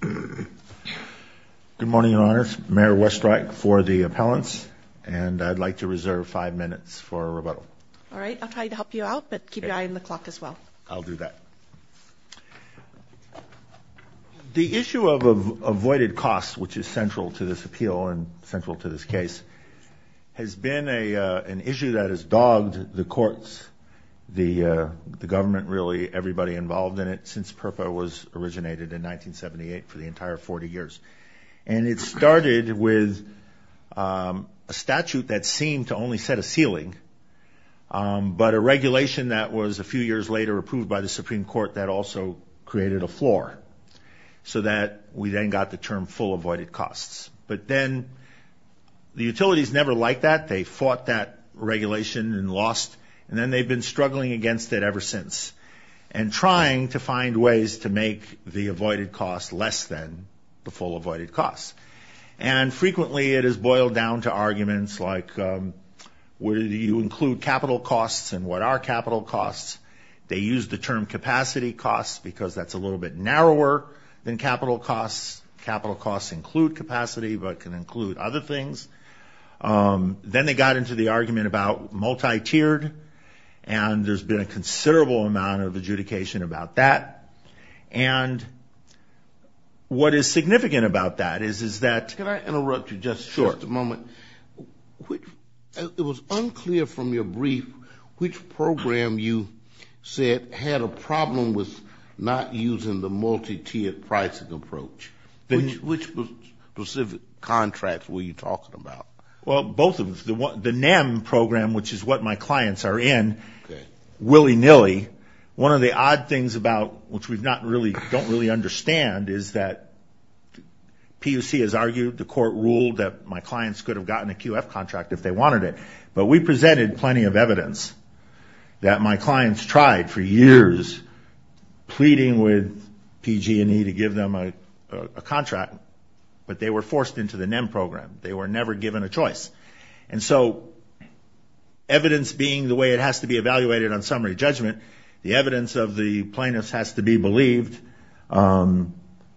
Good morning, Your Honors. Mayor Westreich for the appellants, and I'd like to reserve five minutes for rebuttal. All right, I'll try to help you out, but keep your eye on the clock as well. I'll do that. The issue of avoided costs, which is central to this appeal and central to this case, has been an issue that has dogged the courts, the government really, everybody involved in it since PURPA was originated in 1978 for the entire 40 years. And it started with a statute that seemed to only set a ceiling, but a regulation that was a few years later approved by the Supreme Court that also created a floor, so that we then got the term full avoided costs. But then the utilities never liked that. They fought that regulation and lost, and then they've been struggling against it ever since and trying to find ways to make the avoided costs less than the full avoided costs. And frequently it has boiled down to arguments like, where do you include capital costs and what are capital costs? They use the term capacity costs because that's a little bit narrower than capital costs. Capital costs include capacity, but can include other things. Then they got into the argument about multi-tiered, and there's been a considerable amount of adjudication about that. And what is significant about that is that- Can I interrupt you just a moment? Sure. It was unclear from your brief which program you said had a problem with not using the Well, both of them. The NEM program, which is what my clients are in, willy-nilly. One of the odd things about, which we don't really understand, is that PUC has argued, the court ruled that my clients could have gotten a QF contract if they wanted it. But we presented plenty of evidence that my clients tried for years pleading with PG&E to give them a contract, but they were forced into the NEM program. They were never given a choice. And so, evidence being the way it has to be evaluated on summary judgment, the evidence of the plaintiffs has to be believed.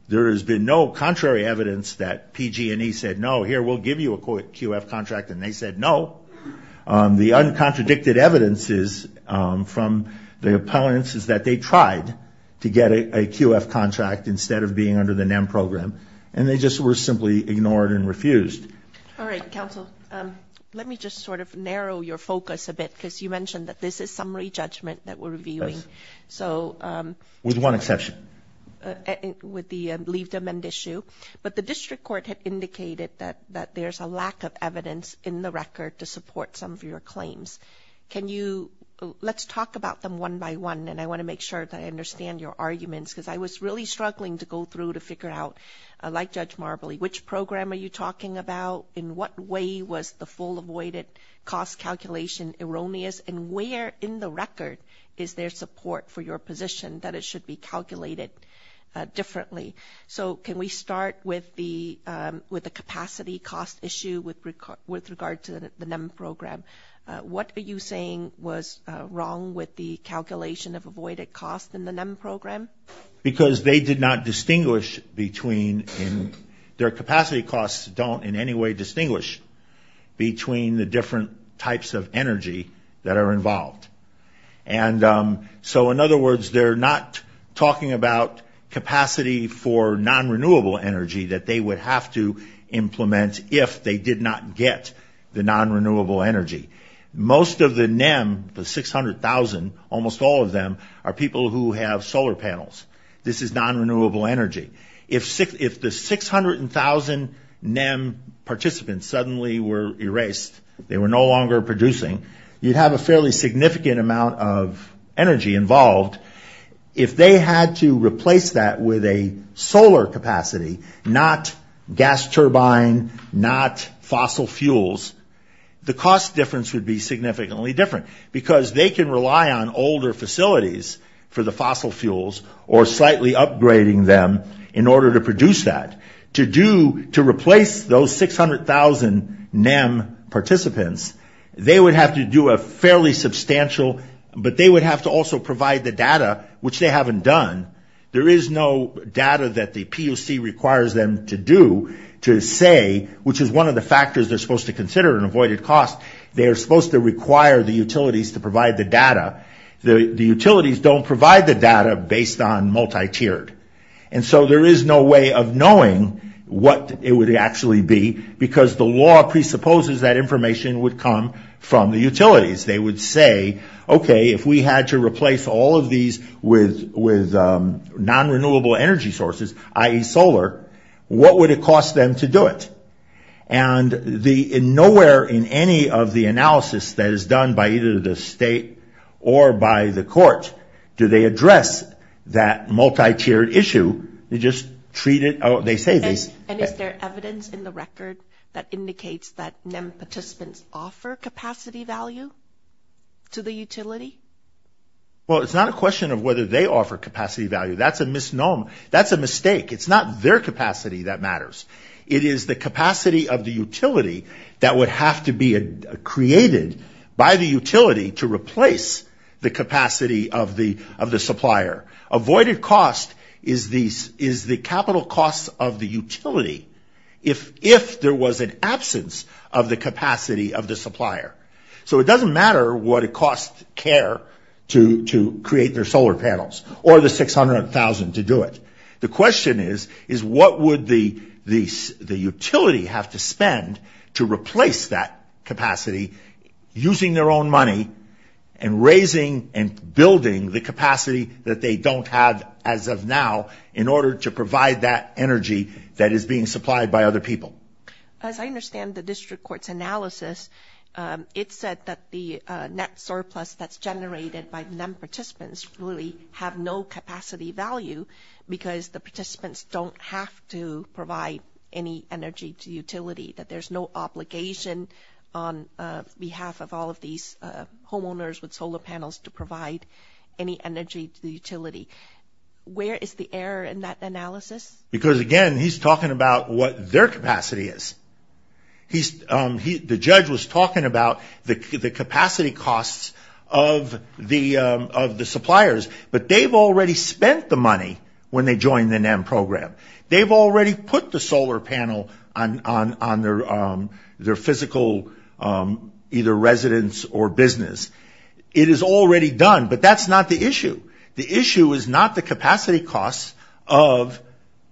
There has been no contrary evidence that PG&E said, no, here, we'll give you a QF contract, and they said no. The uncontradicted evidence is from the opponents is that they tried to get a QF contract instead of being under the NEM program, and they just were simply ignored and refused. All right, counsel. Let me just sort of narrow your focus a bit, because you mentioned that this is summary judgment that we're reviewing. With one exception. With the leave to amend issue. But the district court had indicated that there's a lack of evidence in the record to support some of your claims. Let's talk about them one by one, and I want to make sure that I understand your arguments, because I was really struggling to go through to figure out, like Judge Marbley, which program are you talking about? In what way was the full avoided cost calculation erroneous? And where in the record is there support for your position that it should be calculated differently? So can we start with the capacity cost issue with regard to the NEM program? What are you saying was wrong with the calculation of avoided cost in the NEM program? Because they did not distinguish between, their capacity costs don't in any way distinguish between the different types of energy that are involved. And so in other words, they're not talking about capacity for non-renewable energy that they would have to implement if they did not get the non-renewable energy. Most of the NEM, the 600,000, almost all of them are people who have solar panels. This is non-renewable energy. If the 600,000 NEM participants suddenly were erased, they were no longer producing, you'd have a fairly significant amount of energy involved. If they had to replace that with a solar capacity, not gas turbine, not fossil fuels, the cost difference would be significantly different because they can rely on older facilities for the fossil fuels or slightly upgrading them in order to produce that. To do, to replace those 600,000 NEM participants, they would have to do a fairly substantial, but they would have to also provide the data, which they haven't done. There is no data that the POC requires them to do to say, which is one of the factors they're supposed to consider in avoided cost, they're supposed to require the utilities to provide the data. The utilities don't provide the data based on multi-tiered. And so there is no way of knowing what it would actually be because the law presupposes that information would come from the utilities. They would say, okay, if we had to replace all of these with non-renewable energy sources, i.e. solar, what would it cost them to do it? And nowhere in any of the analysis that is done by either the state or by the court, do they address that multi-tiered issue. They just treat it, oh, they say this. And is there evidence in the record that indicates that NEM participants offer capacity value to the utility? Well, it's not a question of whether they offer capacity value. That's a misnomer. That's a mistake. It's not their capacity that matters. It is the capacity of the utility that would have to be created by the utility to replace the capacity of the supplier. Avoided cost is the capital cost of the utility if there was an absence of the capacity of the supplier. So it doesn't matter what it costs CARE to create their solar panels or the 600,000 to do it. The question is what would the utility have to spend to replace that capacity using their own money and raising and building the capacity that they don't have as of now in order to provide that energy that is being supplied by other people? As I understand the district court's analysis, it said that the net surplus that's generated by NEM participants really have no capacity value because the participants don't have to provide any energy to the utility, that there's no obligation on behalf of all of these homeowners with solar panels to provide any energy to the utility. Where is the error in that analysis? Because again, he's talking about what their capacity is. The judge was talking about the capacity costs of the suppliers, but they've already spent the money when they joined the district. They've already put the solar panel on their physical either residence or business. It is already done, but that's not the issue. The issue is not the capacity costs of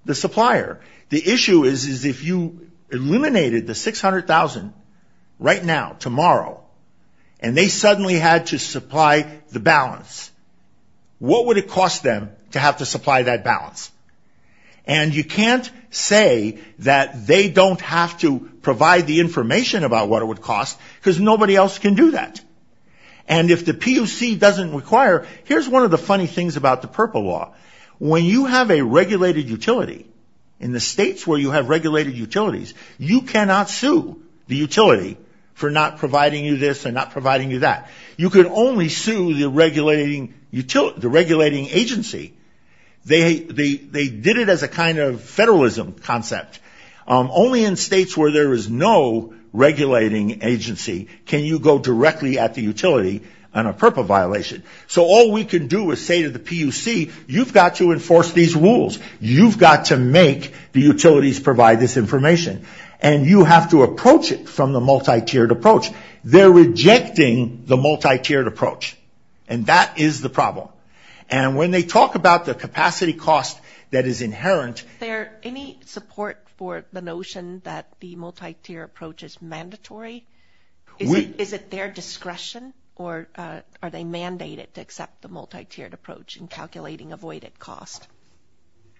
the supplier. The issue is if you eliminated the 600,000 right now, tomorrow, and they suddenly had to supply the balance, what would it cost them to have to supply that balance? And you can't say that they don't have to provide the information about what it would cost because nobody else can do that. And if the PUC doesn't require, here's one of the funny things about the purple law. When you have a regulated utility, in the states where you have regulated utilities, you cannot sue the utility for not providing you this or not providing you that. You can only sue the regulating agency. They did it as a kind of federalism concept. Only in states where there is no regulating agency can you go directly at the utility on a purple violation. So all we can do is say to the PUC, you've got to enforce these rules. You've got to make the utilities provide this information. And you have to approach it from the multi-tiered approach. They're rejecting the multi-tiered approach. And that is the problem. And when they talk about the capacity cost that is inherent... Are there any support for the notion that the multi-tier approach is mandatory? Is it their discretion or are they mandated to accept the multi-tiered approach in calculating avoided cost?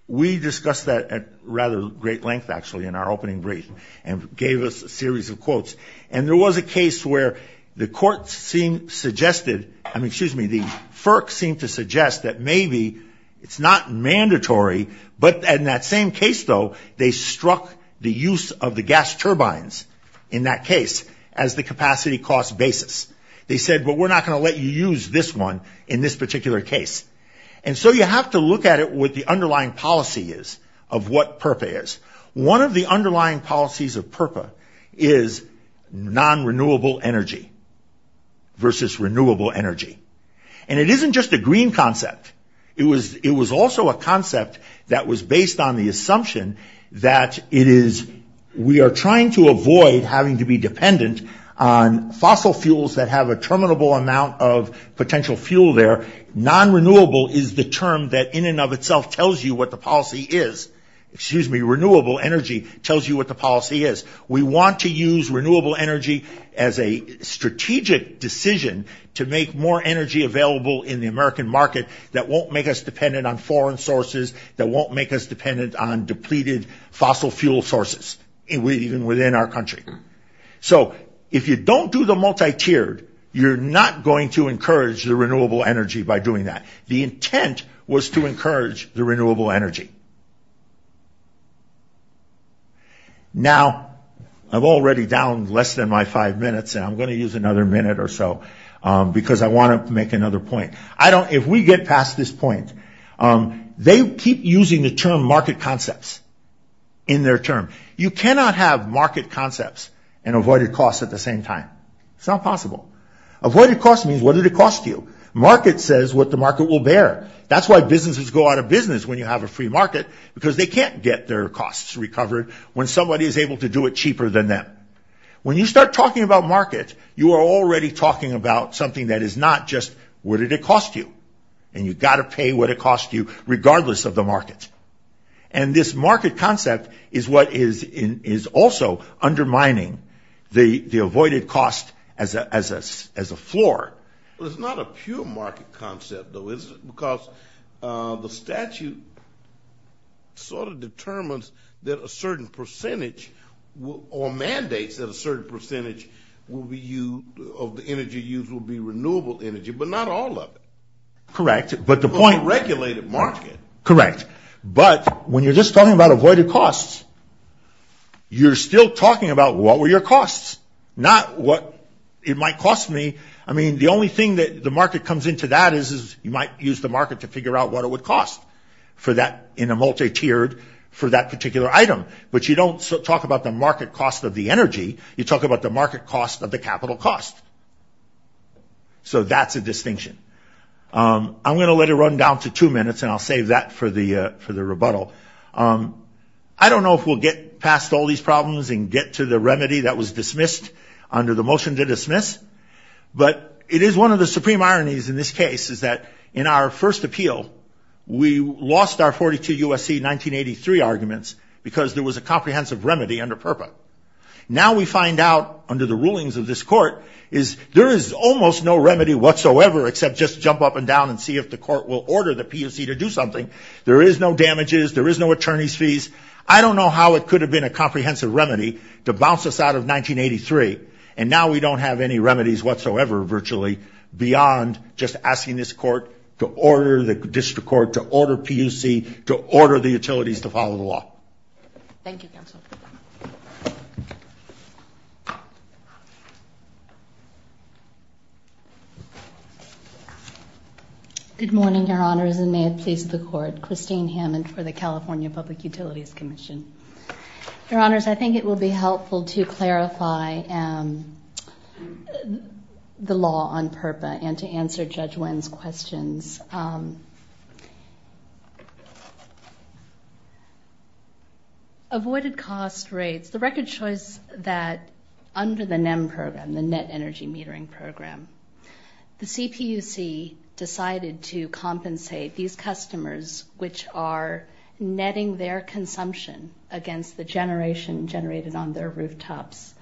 We discussed that at rather great length actually in our opening brief and gave us a series of quotes. And there was a case where the court seemed, suggested, I mean, excuse me, the FERC seemed to suggest that maybe it's not mandatory, but in that same case, though, they struck the use of the gas turbines in that case as the capacity cost basis. They said, well, we're not going to let you use this one in this particular case. And so you have to look at it with the underlying policy is of what PURPA is. One of the underlying policies of PURPA is non-renewable energy versus renewable energy. And it isn't just a green concept. It was also a concept that was based on the assumption that it is... We are trying to avoid having to be dependent on fossil fuels that have a terminable amount of potential fuel there. Non-renewable is the term that in and of itself tells you what the policy is. Excuse me, renewable energy tells you what the policy is. We want to use renewable energy as a strategic decision to make more energy available in the American market that won't make us dependent on foreign sources, that won't make us dependent on depleted fossil fuel sources, even within our country. So if you don't do the multi-tiered, you're not going to encourage the renewable energy by doing that. The intent was to encourage the renewable energy. Now I'm already down less than my five minutes and I'm going to use another minute or so because I want to make another point. If we get past this point, they keep using the term market concepts in their term. You cannot have market concepts and avoided costs at the same time. It's not possible. Avoided cost means what did it cost you? Market says what the market will bear. That's why businesses go out of business when you have a free market because they can't get their costs recovered when somebody is able to do it cheaper than them. When you start talking about market, you are already talking about something that is not just what did it cost you? And you've got to pay what it cost you regardless of the market. And this market concept is what is also undermining the avoided cost as a floor. But it's not a pure market concept though, is it? Because the statute sort of determines that a certain percentage or mandates that a certain percentage of the energy used will be renewable energy, but not all of it. Correct, but the point- But when you're just talking about avoided costs, you're still talking about what were your costs, not what it might cost me. I mean, the only thing that the market comes into that is you might use the market to figure out what it would cost for that in a multi-tiered for that particular item. But you don't talk about the market cost of the energy. You talk about the market cost of the capital cost. So that's a distinction. I'm going to let it run down to two minutes and I'll save that for the rebuttal. I don't know if we'll get past all these problems and get to the remedy that was dismissed under the motion to dismiss, but it is one of the supreme ironies in this case is that in our first appeal, we lost our 42 USC 1983 arguments because there was a comprehensive remedy under PURPA. Now we find out under the rulings of this court is there is almost no remedy whatsoever except just jump up and down and see if the court will order the PUC to do something. There is no damages. There is no attorney's fees. I don't know how it could have been a comprehensive remedy to bounce us out of 1983 and now we don't have any remedies whatsoever virtually beyond just asking this court to order the district court to order PUC to order the utilities to follow the law. Good morning, your honors, and may it please the court. Christine Hammond for the California Public Utilities Commission. Your honors, I think it will be helpful to clarify the law on PURPA and to answer Judge Wen's questions. Avoided cost rates, the record choice that under the NEM program, the net energy metering program, the CPUC decided to compensate these customers which are netting their consumption against the generation generated on their rooftops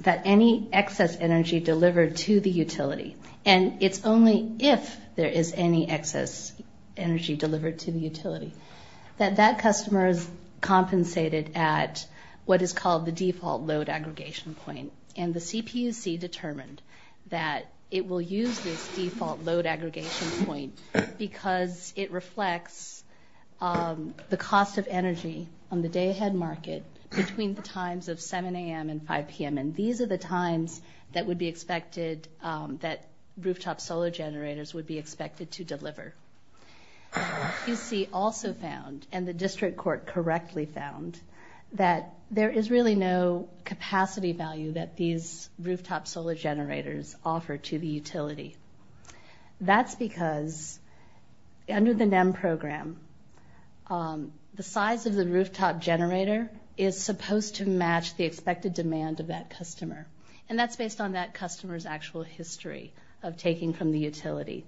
that any excess energy delivered to the utility, and it's only if there is any excess energy delivered to the utility, that that customer is compensated at what is called the default load aggregation point, and the CPUC determined that it will use this default load aggregation point because it reflects the cost of energy on the day ahead market between the times of 7 a.m. and 5 p.m., and these are the times that would be expected that rooftop solar generators would be expected to deliver. PUC also found, and the district court correctly found, that there is really no capacity value that these rooftop solar generators offer to the utility. That's because under the NEM program, the size of the rooftop generator is supposed to match the expected demand of that customer, and that's based on that customer's actual history of taking from the utility.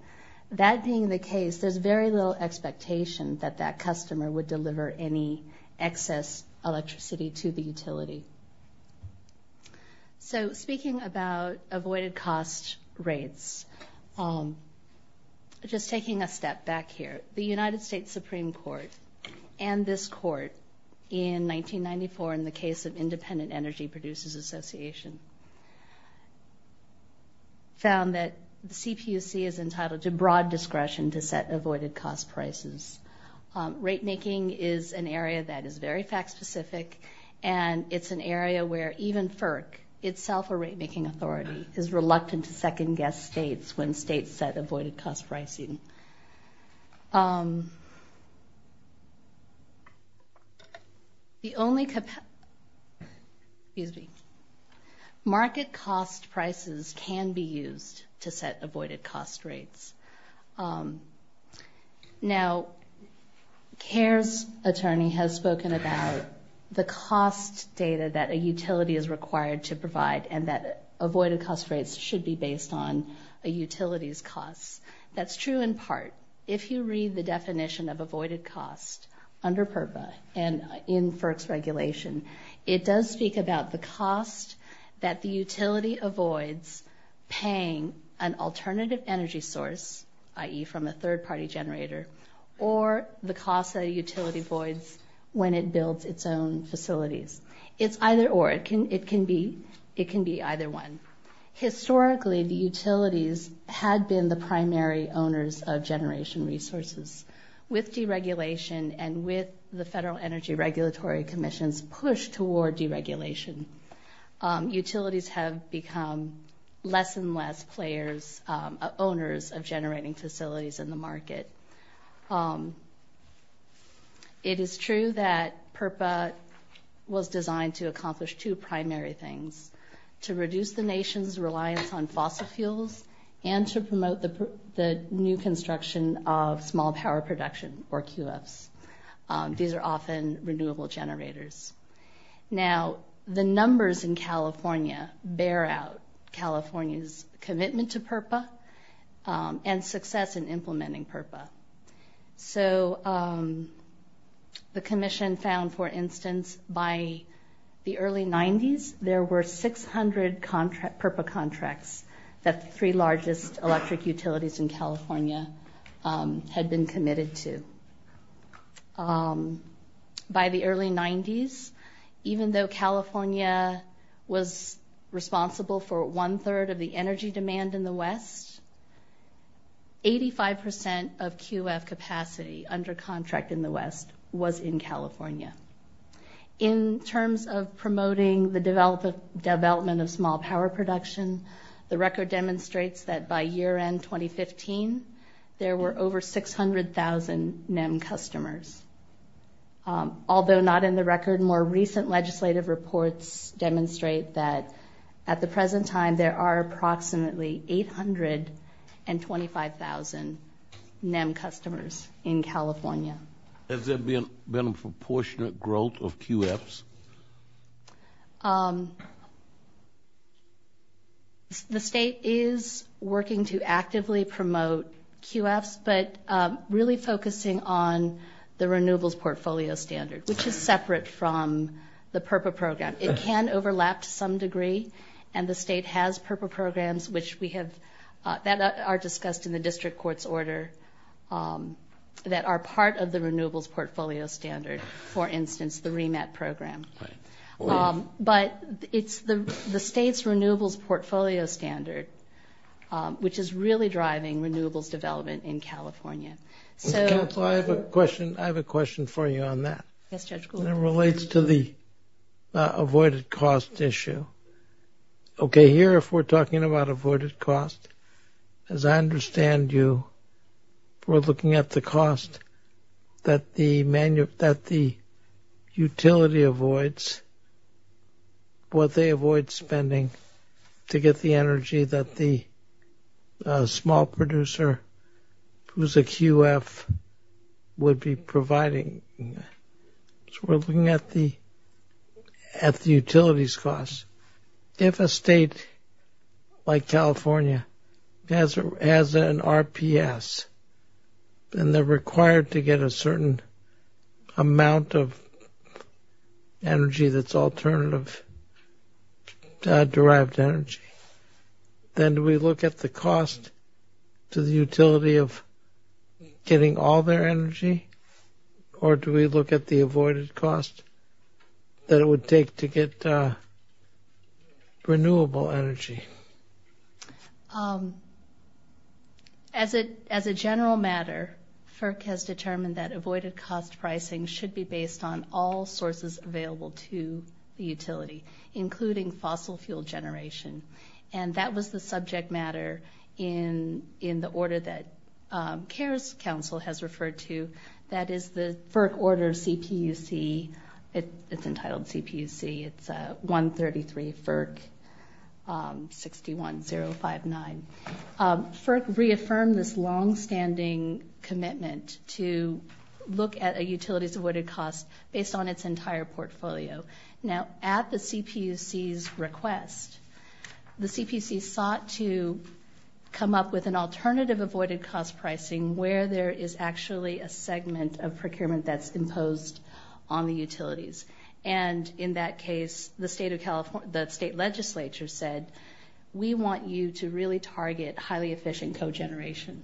That being the case, there's very little expectation that that customer would deliver any excess electricity to the utility. So speaking about avoided cost rates, just taking a step back here, the United States Supreme Court and this court in 1994 in the case of Independent Energy Producers Association found that the CPUC is entitled to broad discretion to set avoided cost prices. Rate making is an area that is very fact specific, and it's an area where even FERC, itself a rate making authority, is reluctant to second guess states when states set avoided cost pricing. The market cost prices can be used to set avoided cost rates. Now CARES attorney has spoken about the cost data that a utility is required to provide, and that avoided cost rates should be based on a utility's costs. That's true in part. If you read the definition of avoided cost under PURPA and in FERC's regulation, it does speak about the cost that the utility avoids paying an alternative energy source, i.e. from a third party generator, or the cost that a utility avoids when it builds its own facilities. It's either or. It can be either one. Historically, the utilities had been the primary owners of generation resources. With deregulation and with the Federal Energy Regulatory Commission's push toward deregulation, utilities have become less and less owners of generating facilities in the market. It is true that PURPA was designed to accomplish two primary things, to reduce the nation's reliance on fossil fuels, and to promote the new construction of small power production, or QFs. These are often renewable generators. Now, the numbers in California bear out California's commitment to PURPA and success in implementing PURPA. The commission found, for instance, by the early 90s, there were 600 PURPA contracts that the three largest electric utilities in California had been committed to. By the early 90s, even though California was responsible for one-third of the energy demand in the West, 85% of QF capacity under contract in the West was in California. In terms of promoting the development of small power production, the record demonstrates that by year-end 2015, there were over 600,000 NEM customers. Although not in the record, more recent legislative reports demonstrate that at the present time, there are approximately 825,000 NEM customers in California. So the state is working to actively promote QFs, but really focusing on the renewables portfolio standards, which is separate from the PURPA program. It can overlap to some degree, and the state has PURPA programs that are discussed in the district court's order that are part of the renewables portfolio standard, for instance, the REMET program. But it's the state's renewables portfolio standard, which is really driving renewables development in California. I have a question for you on that. It relates to the avoided cost issue. Okay, here if we're looking at the cost that the utility avoids, what they avoid spending to get the energy that the small producer, who's a QF, would be providing. So we're looking at the utilities costs. If a state like California has an RPS, and they're required to get a certain amount of energy that's alternative derived energy, then do we look at the cost to the utility of getting all their energy, or do we look at the avoided cost that it would take to get renewable energy? As a general matter, FERC has determined that avoided cost pricing should be based on all sources available to the utility, including fossil fuel generation. And that was the subject matter in the order that CARES Council has referred to, that is the FERC order CPUC. It's entitled CPUC. It's 133 FERC 61059. FERC reaffirmed this longstanding commitment to look at a utility's avoided cost based on its entire portfolio. Now at the CPUC's request, the CPUC sought to come up with an alternative avoided cost pricing where there is actually a segment of procurement that's imposed on the utilities. And in that case, the state legislature said, we want you to really target highly efficient cogeneration.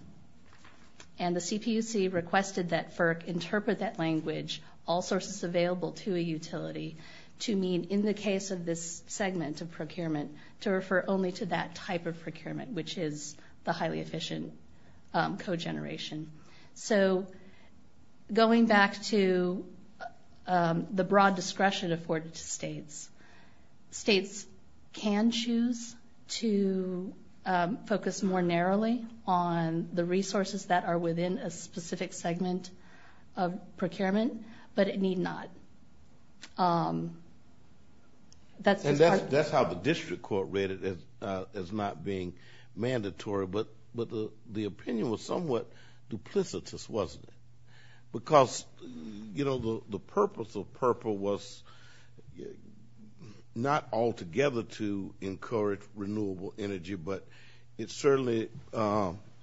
And the CPUC requested that FERC interpret that language, all sources available to a utility, to mean in the case of this segment of procurement, to refer only to that type of procurement, which is the highly efficient cogeneration. So going back to the broad discretion afforded to states, states can choose to focus more narrowly on the resources that are within a specific segment of procurement, but it need not. And that's how the district court read it as not being mandatory, but the opinion was somewhat duplicitous, wasn't it? Because the purpose of PURPLE was not altogether to encourage renewable energy, but it certainly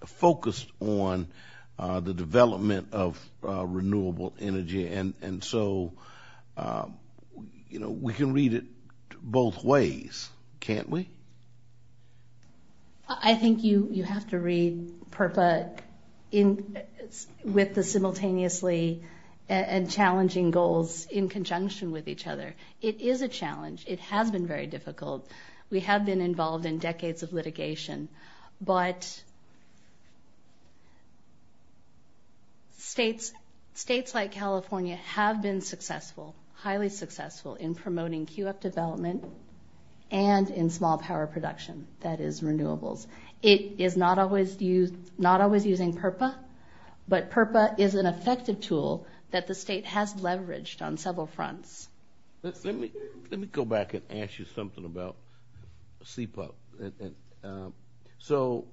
focused on the development of renewable energy. And so, you know, we can read it both ways, can't we? I think you have to read PURPLE with the simultaneously and challenging goals in conjunction with each other. It is a challenge. It has been very difficult. We have been involved in decades of litigation, but states, states like California have been involved in decades of litigation. And they have been successful, highly successful in promoting QF development and in small power production that is renewables. It is not always used, not always using PURPLE, but PURPLE is an effective tool that the state has leveraged on several fronts. Let me, let me go back and ask you something about CPAP. So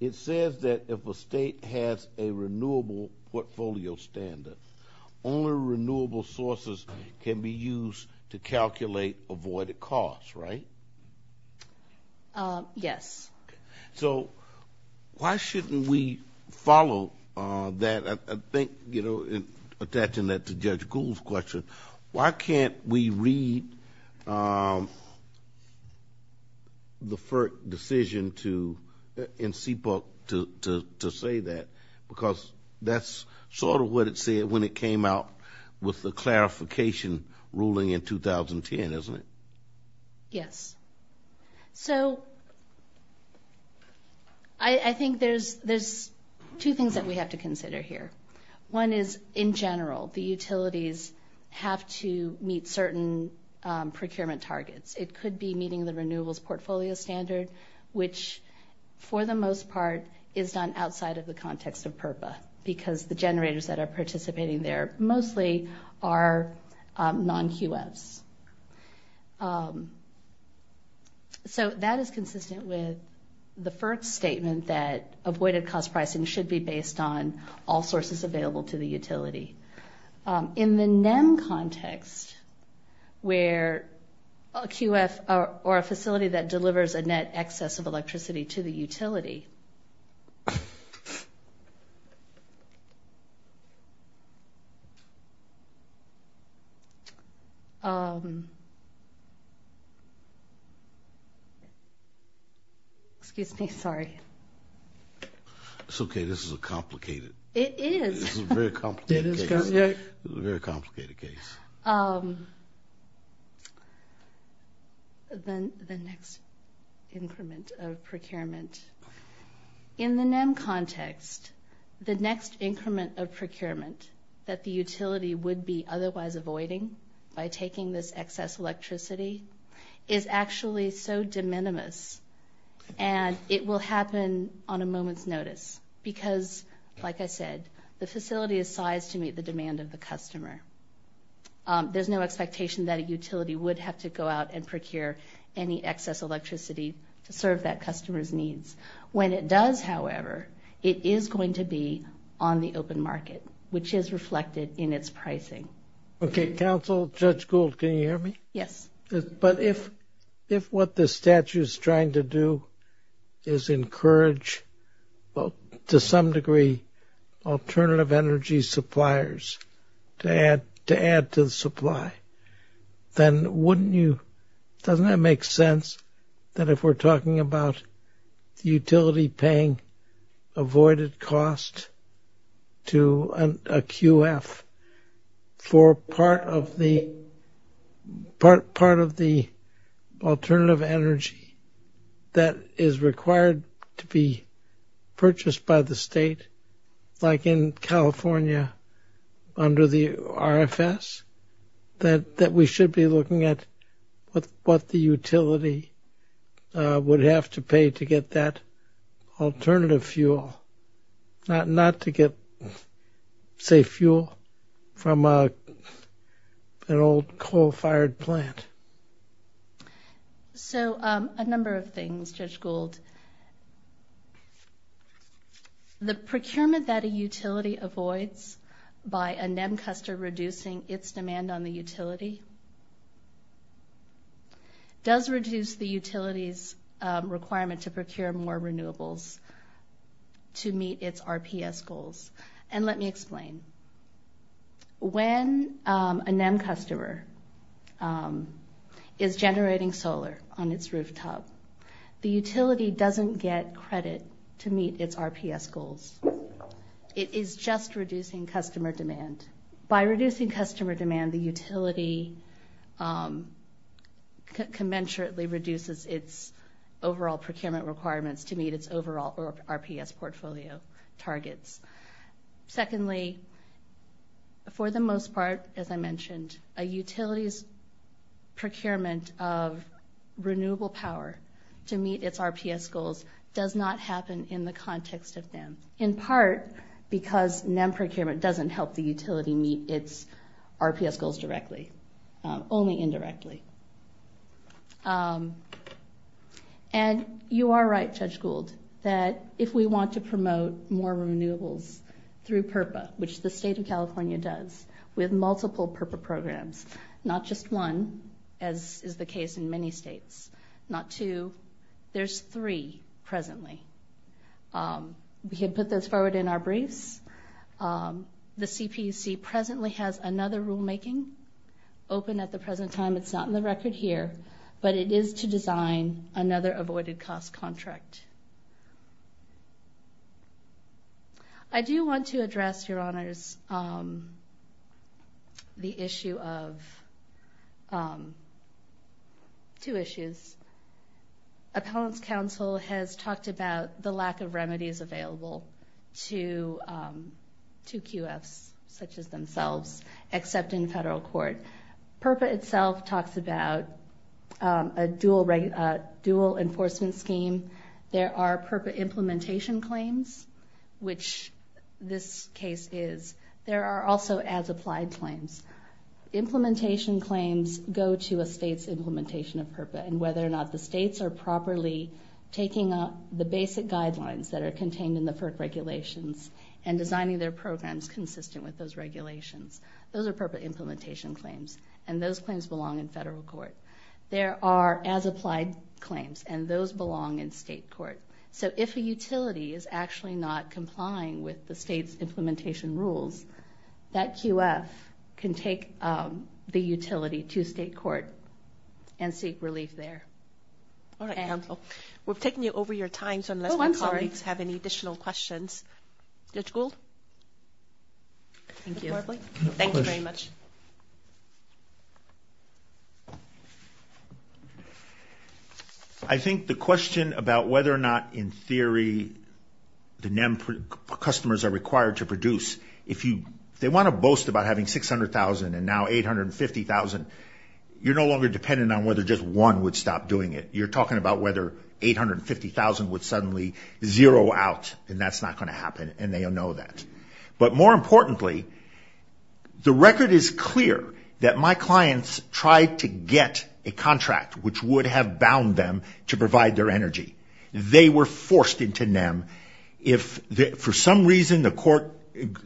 it says that if a state has a renewable portfolio standard, only renewable sources can be used to calculate avoided costs, right? Yes. So why shouldn't we follow that? I think, you know, attaching that to Judge Gould's question, why can't we read the FERC decision to, in CPAP, to say that, but why can't we read the FERC decision to say that? Because that's sort of what it said when it came out with the clarification ruling in 2010, isn't it? Yes. So I think there's, there's two things that we have to consider here. One is in general, the utilities have to meet certain procurement targets. It could be meeting the renewables portfolio standard, which for the most part is done outside of the context of PURPLE, because the generators that are participating there mostly are non-QFs. So that is consistent with the FERC statement that avoided cost pricing should be based on all sources available to the utility. In the NEM context, where a QF, or a facility that delivers a net excess of electricity to the utility, excuse me, sorry. It's okay. This is a complicated... It is. This is a very complicated case. The next increment of procurement. In the NEM context, the next increment of procurement that the utility would be otherwise avoiding by taking this excess electricity is actually so de minimis, and it will happen on a moment's notice. Because, like I said, the facility is sized to meet the demand of the customer. There's no expectation that a utility would have to go out and procure any excess electricity to serve that customer's needs. When it does, however, it is going to be on the open market, which is reflected in its pricing. Okay. Counsel, Judge Gould, can you hear me? Yes. But if, if what the statute is trying to do is encourage, to some degree, alternative energy suppliers to add, to add to the supply, then wouldn't you, doesn't that make sense that if we're talking about the utility paying avoided cost to a QF for part of the, part of the alternative energy that is required to be purchased by the state, like in California, under the RFS, that, that we should be looking at what, what the utility would have to pay to get that alternative fuel, not, not to get, say, fuel from an old coal-fired plant? So a number of things, Judge Gould. The procurement that a utility avoids is, is, is, is, is, is avoids by a NEM customer reducing its demand on the utility, does reduce the utility's requirement to procure more renewables to meet its RPS goals. And let me explain. When a NEM customer is generating solar on its rooftop, the utility doesn't get credit to meet its RPS goals. It is just reducing customer demand. By reducing customer demand, the utility conventionally reduces its overall procurement requirements to meet its overall RPS portfolio targets. Secondly, for the most part, as I mentioned, a utility's procurement of renewable power to meet its RPS goals does not happen in the context of NEM, in part because NEM procurement doesn't help the utility meet its RPS goals directly, only indirectly. And you are right, Judge Gould, that if we want to promote more renewable programs, not just one, as is the case in many states, not two, there's three presently. We can put those forward in our briefs. The CPC presently has another rulemaking open at the present time. It's not in the record here, but it is to design another avoided cost contract. I do want to address, Your Honors, the issue of two issues. Appellant's counsel has talked about the lack of remedies available to QFs such as themselves, except in federal court. PRPA itself talks about a dual enforcement scheme. There are PRPA implementation claims, which this case is. There are also as-applied claims. Implementation claims go to a state's implementation of PRPA, and whether or not the states are properly taking up the basic guidelines that are contained in the PRPA regulations and designing their programs consistent with those regulations, those are PRPA implementation claims, and those claims belong in federal court. There are as-applied claims, and those belong in state court. So if a utility is actually not complying with the state's implementation rules, that QF can take the utility to state court and seek relief there. All right, counsel. We're taking you over your time, so unless my colleagues have any additional questions. Judge Gould? Thank you very much. I think the question about whether or not, in theory, the NEMP customers are required to produce, if they want to boast about having $600,000 and now $850,000, you're no longer dependent on whether just one would stop doing it. You're talking about whether $850,000 would suddenly zero out, and that's not going to happen, and they know that. But more importantly, the record is clear that my clients tried to get a contract which would have bound them to provide their energy. They were forced into NEMP. For some reason, the court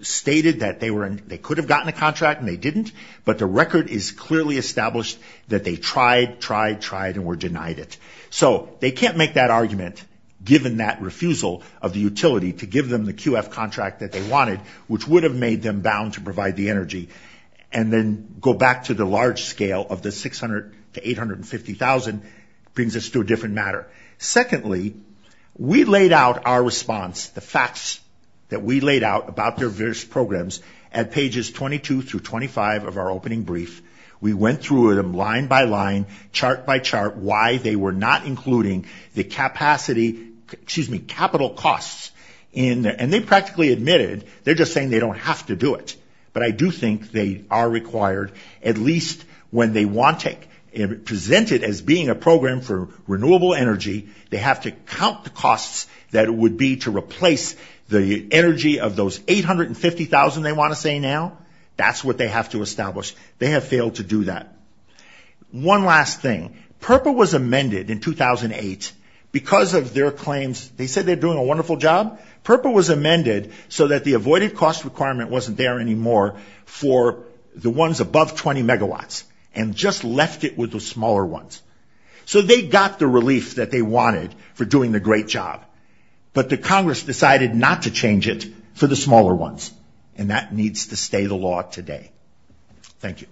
stated that they could have gotten a contract and they didn't, but the record is clearly established that they tried, tried, tried, and were denied it. So they can't make that argument given that refusal of the utility to give them the QF contract that they wanted, which would have made them bound to provide the energy, and then go back to the large scale of the $600,000 to $850,000 brings us to a different matter. Secondly, we laid out our response, the facts that we laid out about their various programs at pages 22 through 25 of our opening brief. We went through them line by line, chart by chart, why they were not including the capital costs, and they practically admitted, they're just saying they don't have to do it. But I do think they are required, at least when they present it as being a program for renewable energy, they have to count the costs that would be to replace the energy of those $850,000 they want to say now. That's what they have to establish. They have failed to do that. One last thing. PURPA was amended in 2008 because of their claims. They said they're doing a wonderful job. PURPA was amended so that the avoided cost requirement wasn't there anymore for the ones above 20 megawatts, and just left it with the smaller ones. So they got the relief that they wanted for doing the great job, but the Congress decided not to change it for the smaller ones, and that needs to stay the law today. Thank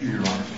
you.